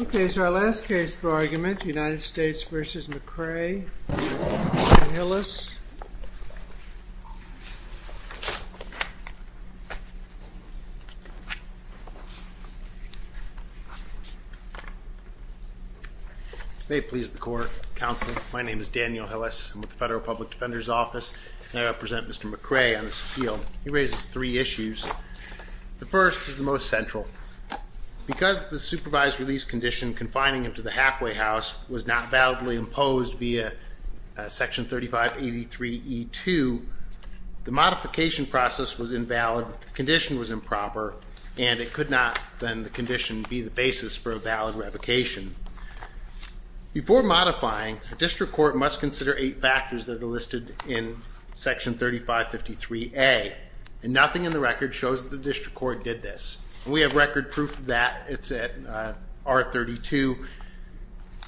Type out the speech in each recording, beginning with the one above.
Okay, so our last case for argument, United States v. McCray, Daniel Hillis. May it please the court, counsel, my name is Daniel Hillis. I'm with the Federal Public Defender's Office and I represent Mr. McCray on this appeal. He raises three issues. The first is the most central. Because the supervised release condition confining him to the halfway house was not validly imposed via section 3583E2, the modification process was invalid, the condition was improper, and it could not, then, the condition be the basis for a valid revocation. Before modifying, a district court must consider eight factors that are listed in section 3553A, and nothing in the record shows that the district court did this. We have record proof that it's at R32.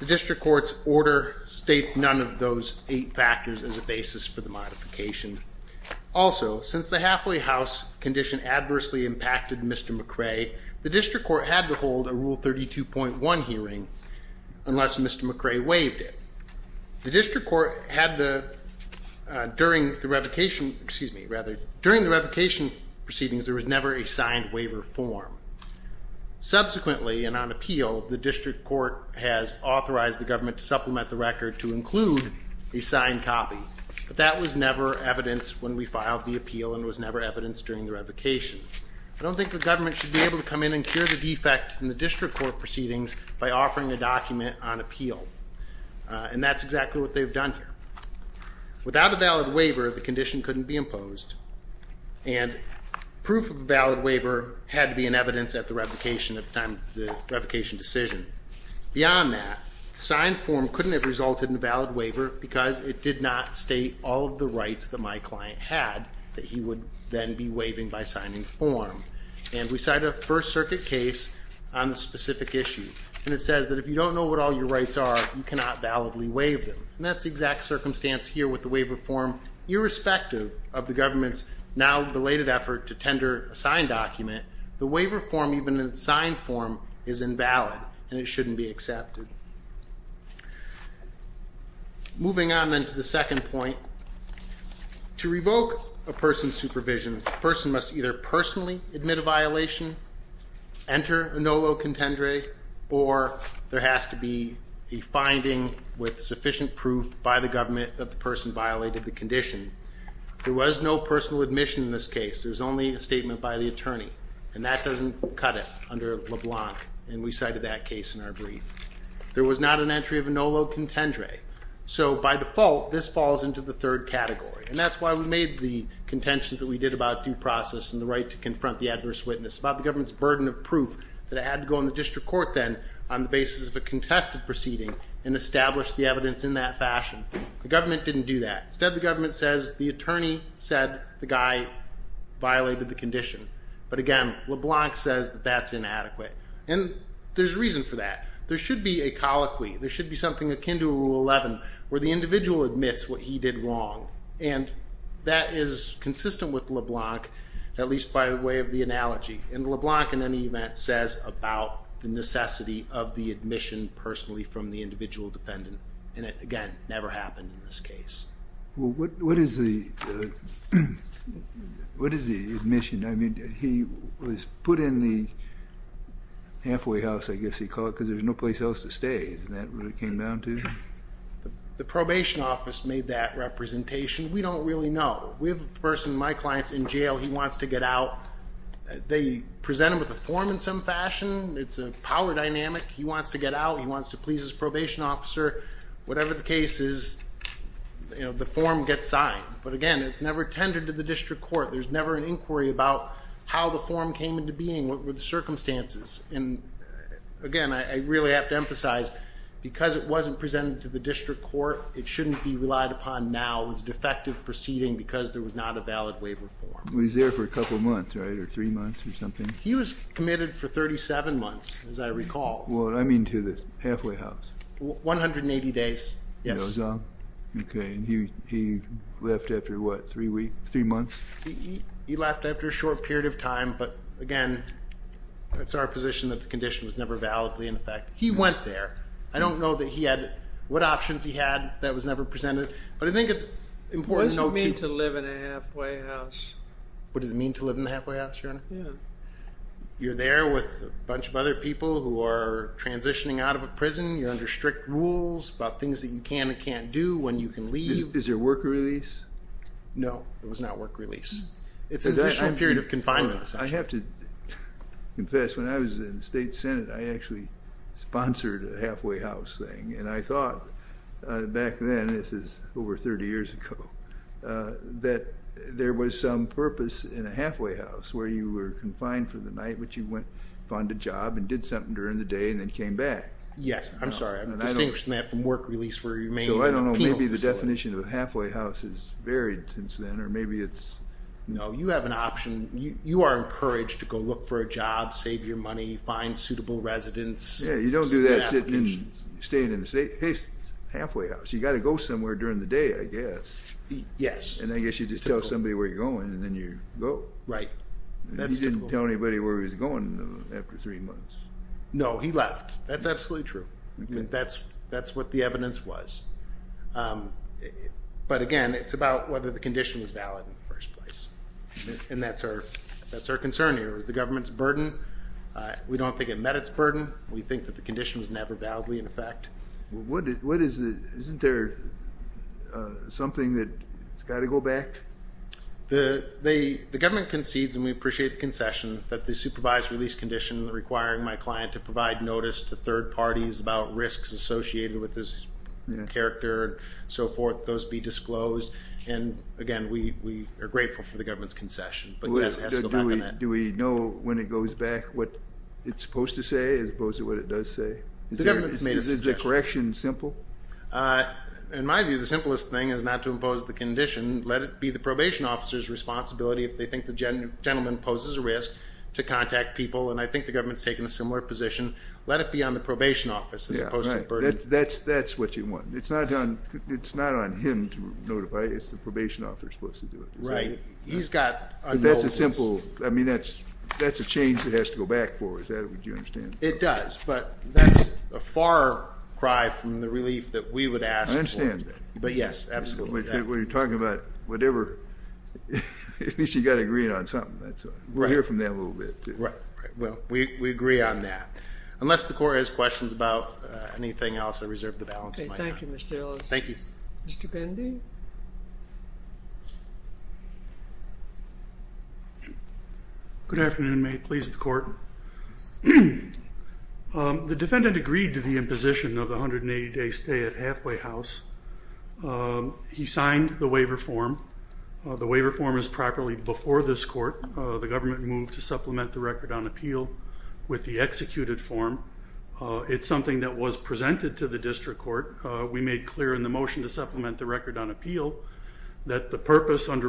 The district court's order states none of those eight factors as a basis for the modification. Also, since the halfway house condition adversely impacted Mr. McCray, the district court had to hold a Rule 32.1 hearing unless Mr. McCray waived it. The district court had to, during the revocation, excuse me, rather, during the revocation proceedings, there was never a signed waiver form. Subsequently, and on appeal, the district court has authorized the government to supplement the record to include a signed copy, but that was never evidenced when we filed the appeal and was never evidenced during the revocation. I don't think the government should be able to come in the district court proceedings by offering a document on appeal, and that's exactly what they've done here. Without a valid waiver, the condition couldn't be imposed, and proof of a valid waiver had to be in evidence at the revocation at the time of the revocation decision. Beyond that, signed form couldn't have resulted in a valid waiver because it did not state all of the rights that my client had that he would then be waiving by signing form, and we cite a First Circuit case on the specific issue, and it says that if you don't know what all your rights are, you cannot validly waive them, and that's the exact circumstance here with the waiver form. Irrespective of the government's now-delayed effort to tender a signed document, the waiver form, even in signed form, is invalid, and it shouldn't be accepted. Moving on, then, to the second point, to revoke a person's supervision, the person has to either personally admit a violation, enter a nolo contendere, or there has to be a finding with sufficient proof by the government that the person violated the condition. There was no personal admission in this case. There was only a statement by the attorney, and that doesn't cut it under LeBlanc, and we cited that case in our brief. There was not an entry of a nolo contendere, so by default, this falls into the third category, and that's why we made the contentions that we did about due process and the right to confront the adverse witness, about the government's burden of proof, that it had to go on the district court then, on the basis of a contested proceeding, and establish the evidence in that fashion. The government didn't do that. Instead, the government says, the attorney said the guy violated the condition, but again, LeBlanc says that that's inadequate, and there's reason for that. There should be a colloquy, there should be something akin to a Rule 11, where the individual admits what he did wrong, and that is consistent with LeBlanc, at least by way of the analogy, and LeBlanc, in any event, says about the necessity of the admission personally from the individual defendant, and it, again, never happened in this case. What is the admission? I mean, he was put in the halfway house, I guess he called it, because there's no place else to stay, isn't that what it came down to? The probation office made that representation. We don't really know. We have a person, my client's in jail, he wants to get out. They present him with a form in some fashion, it's a power dynamic, he wants to get out, he wants to please his probation officer, whatever the case is, the form gets signed, but again, it's never tended to the district court, there's never an inquiry about how the form came into being, what were the circumstances, and again, I really have to emphasize, because it wasn't presented to the district court, it shouldn't be relied upon now, it was a defective proceeding because there was not a valid waiver form. He was there for a couple of months, right, or three months or something? He was committed for 37 months, as I recall. What do I mean to this, halfway house? One hundred and eighty days, yes. Okay, and he left after what, three months? He left after a short period of time, but again, that's our position that the condition was never validly in effect. He went there, I don't know that he had, what options he had that was never presented, but I think it's important to note to you. What does it mean to live in a halfway house? What does it mean to live in a halfway house, Your Honor? Yeah. You're there with a bunch of other people who are transitioning out of a prison, you're under strict rules about things that you can and can't do, when you can leave. Is there work release? No, there was not work release. It's an official period of confinement, essentially. I have to confess, when I was in the State Senate I actually sponsored a halfway house thing, and I thought back then, this is over 30 years ago, that there was some purpose in a halfway house where you were confined for the night, but you went, found a job, and did something during the day, and then came back. Yes, I'm sorry, I'm distinguishing that from work release for remaining in a penal facility. So I don't know, maybe the definition of a halfway house has varied since then, or maybe it's... No, you have an option. You are encouraged to go look for a job, save your money, find suitable residence. Yeah, you don't do that staying in the state, hey, halfway house, you got to go somewhere during the day, I guess. Yes. And I guess you just tell somebody where you're going, and then you go. Right. He didn't tell anybody where he was going after three months. No, he left. That's absolutely true. That's what the evidence was. But again, it's about whether the condition was valid in the first place, and that's our concern here. It was the government's burden. We don't think it met its burden. We think that the condition was never validly in effect. Isn't there something that's got to go back? The government concedes, and we appreciate the concession, that the supervised release condition requiring my client to provide notice to third parties about risks associated with this character, and so forth, those be disclosed. And again, we are grateful for the government's concession. But yes, it has to go back on that. Do we know when it goes back what it's supposed to say as opposed to what it does say? The government's made a suggestion. Is the correction simple? In my view, the simplest thing is not to impose the condition. Let it be the probation officer's responsibility if they think the gentleman poses a risk to contact people, and I think the government's taken a similar position. Let it be on the probation office as opposed to the burden. That's what you want. It's not on him to notify, it's the probation officer's supposed to do it. Right. He's got a role. That's a simple, I mean, that's a change that has to go back for. Is that what you understand? It does, but that's a far cry from the relief that we would ask for. I understand that. But yes, absolutely. We're talking about whatever, at least you've got to agree on something. We'll hear from them a little bit. Right, right. Well, we agree on that. Unless the court has questions about anything else, I reserve the balance of my time. Okay, thank you Mr. Ellis. Thank you. Mr. Bendy? Good afternoon, may it please the court. The defendant agreed to the imposition of the 180-day stay at Halfway House. He signed the waiver form. The waiver form is properly before this court. The government moved to supplement the record. It's something that was presented to the district court. We made clear in the motion to supplement the record on appeal that the purpose under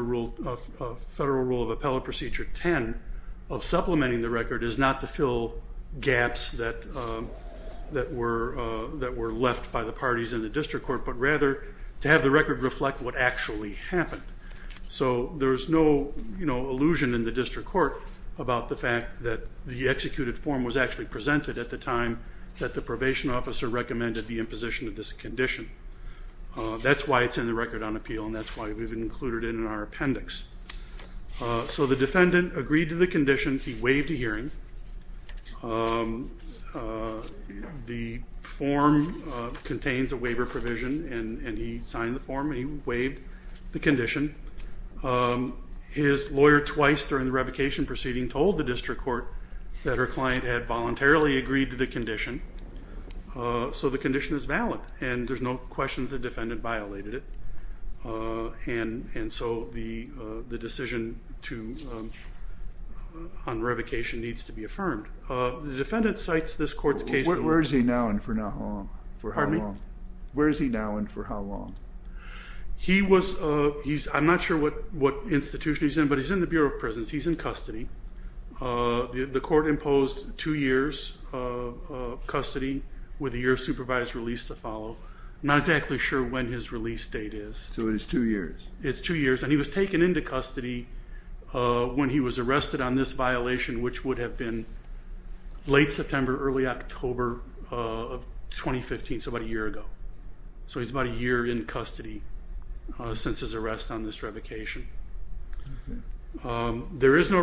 Federal Rule of Appellate Procedure 10 of supplementing the record is not to fill gaps that were left by the parties in the district court, but rather to have the record reflect what actually happened. So there's no, you know, illusion in the district court about the fact that the probation officer recommended the imposition of this condition. That's why it's in the record on appeal and that's why we've included it in our appendix. So the defendant agreed to the condition. He waived a hearing. The form contains a waiver provision and he signed the form and he waived the condition. His lawyer twice during the revocation proceeding told the district court that her client had voluntarily agreed to the condition. So the condition is valid and there's no question that the defendant violated it. And so the decision on revocation needs to be affirmed. The defendant cites this court's case. Where is he now and for how long? He was, I'm not sure what institution he's in, but he's in the Bureau of Prisons. He's in custody. The two years of custody with a year of supervised release to follow. I'm not exactly sure when his release date is. So it is two years. It's two years and he was taken into custody when he was arrested on this violation which would have been late September, early October of 2015, so about a year ago. So he's about a year in custody since his arrest on this revocation. There is no violation. There is no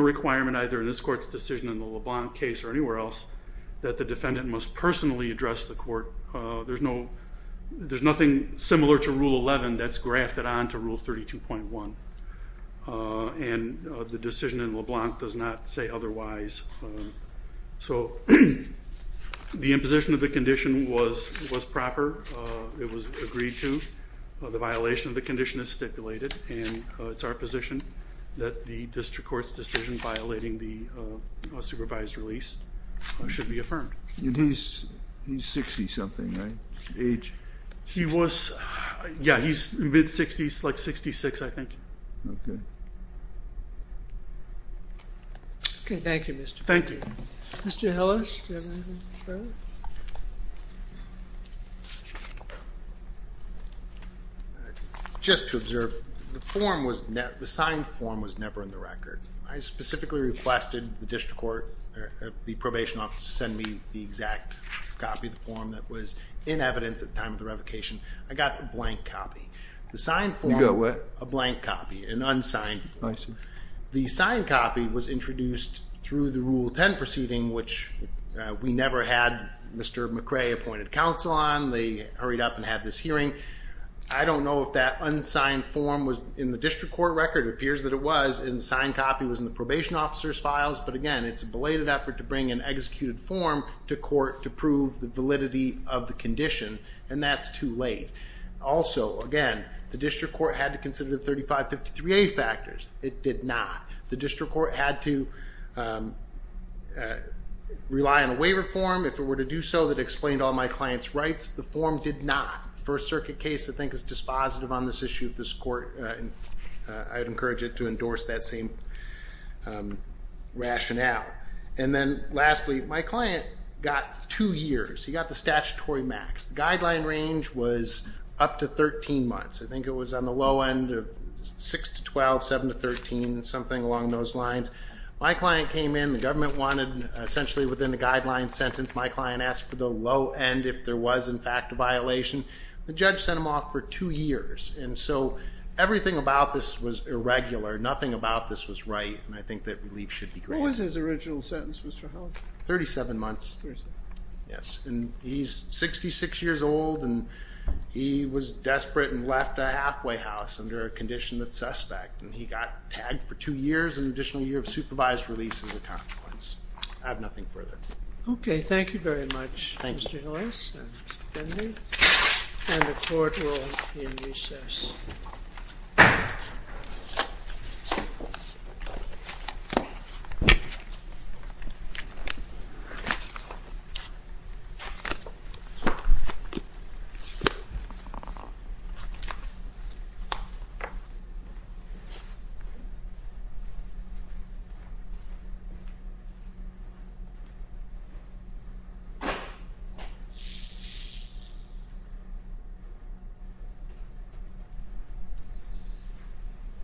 requirement either in this court's decision in the LeBlanc case or anywhere else that the defendant must personally address the court. There's nothing similar to Rule 11 that's grafted on to Rule 32.1 and the decision in LeBlanc does not say otherwise. So the imposition of the condition was proper. It was agreed to. The violation of the condition is our position that the district court's decision violating the supervised release should be affirmed. He's 60 something, right? Age? He was, yeah, he's mid-60s, like 66 I think. Okay, thank you. Thank you. Mr. Hillis? Just to observe, the form was, the signed form was never in the record. I specifically requested the district court, the probation office, to send me the exact copy of the form that was in evidence at the time of the revocation. I got a blank copy. The signed form? You got what? A blank copy, an unsigned form. I see. The signed copy was introduced through the Rule 10 proceeding, which we never had Mr. McRae appointed counsel on. They hurried up and had this hearing. I don't know if that unsigned form was in the district court record. It appears that it was in the signed copy, was in the probation officer's files, but again it's a belated effort to bring an executed form to court to prove the validity of the condition and that's too late. Also, again, the district court had to consider the It did not. The district court had to rely on a waiver form if it were to do so that explained all my client's rights. The form did not. First Circuit case I think is dispositive on this issue of this court and I'd encourage it to endorse that same rationale. And then lastly, my client got two years. He got the statutory max. The guideline range was up to 13 months. I think it was on the low end of 6 to 12, 7 to 13, something along those lines. My client came in. The government wanted essentially within the guideline sentence my client asked for the low end if there was in fact a violation. The judge sent him off for two years and so everything about this was irregular. Nothing about this was right and I think that relief should be granted. What was his original sentence, Mr. Hollis? 37 months. Yes, and he's 66 years old and he was desperate and left a halfway house under a condition that's suspect and he got tagged for two years, an additional year of supervised release as a consequence. I have nothing further. Okay, thank you very much, Mr. Hollis and Mr. Dendy. And the court will be in recess.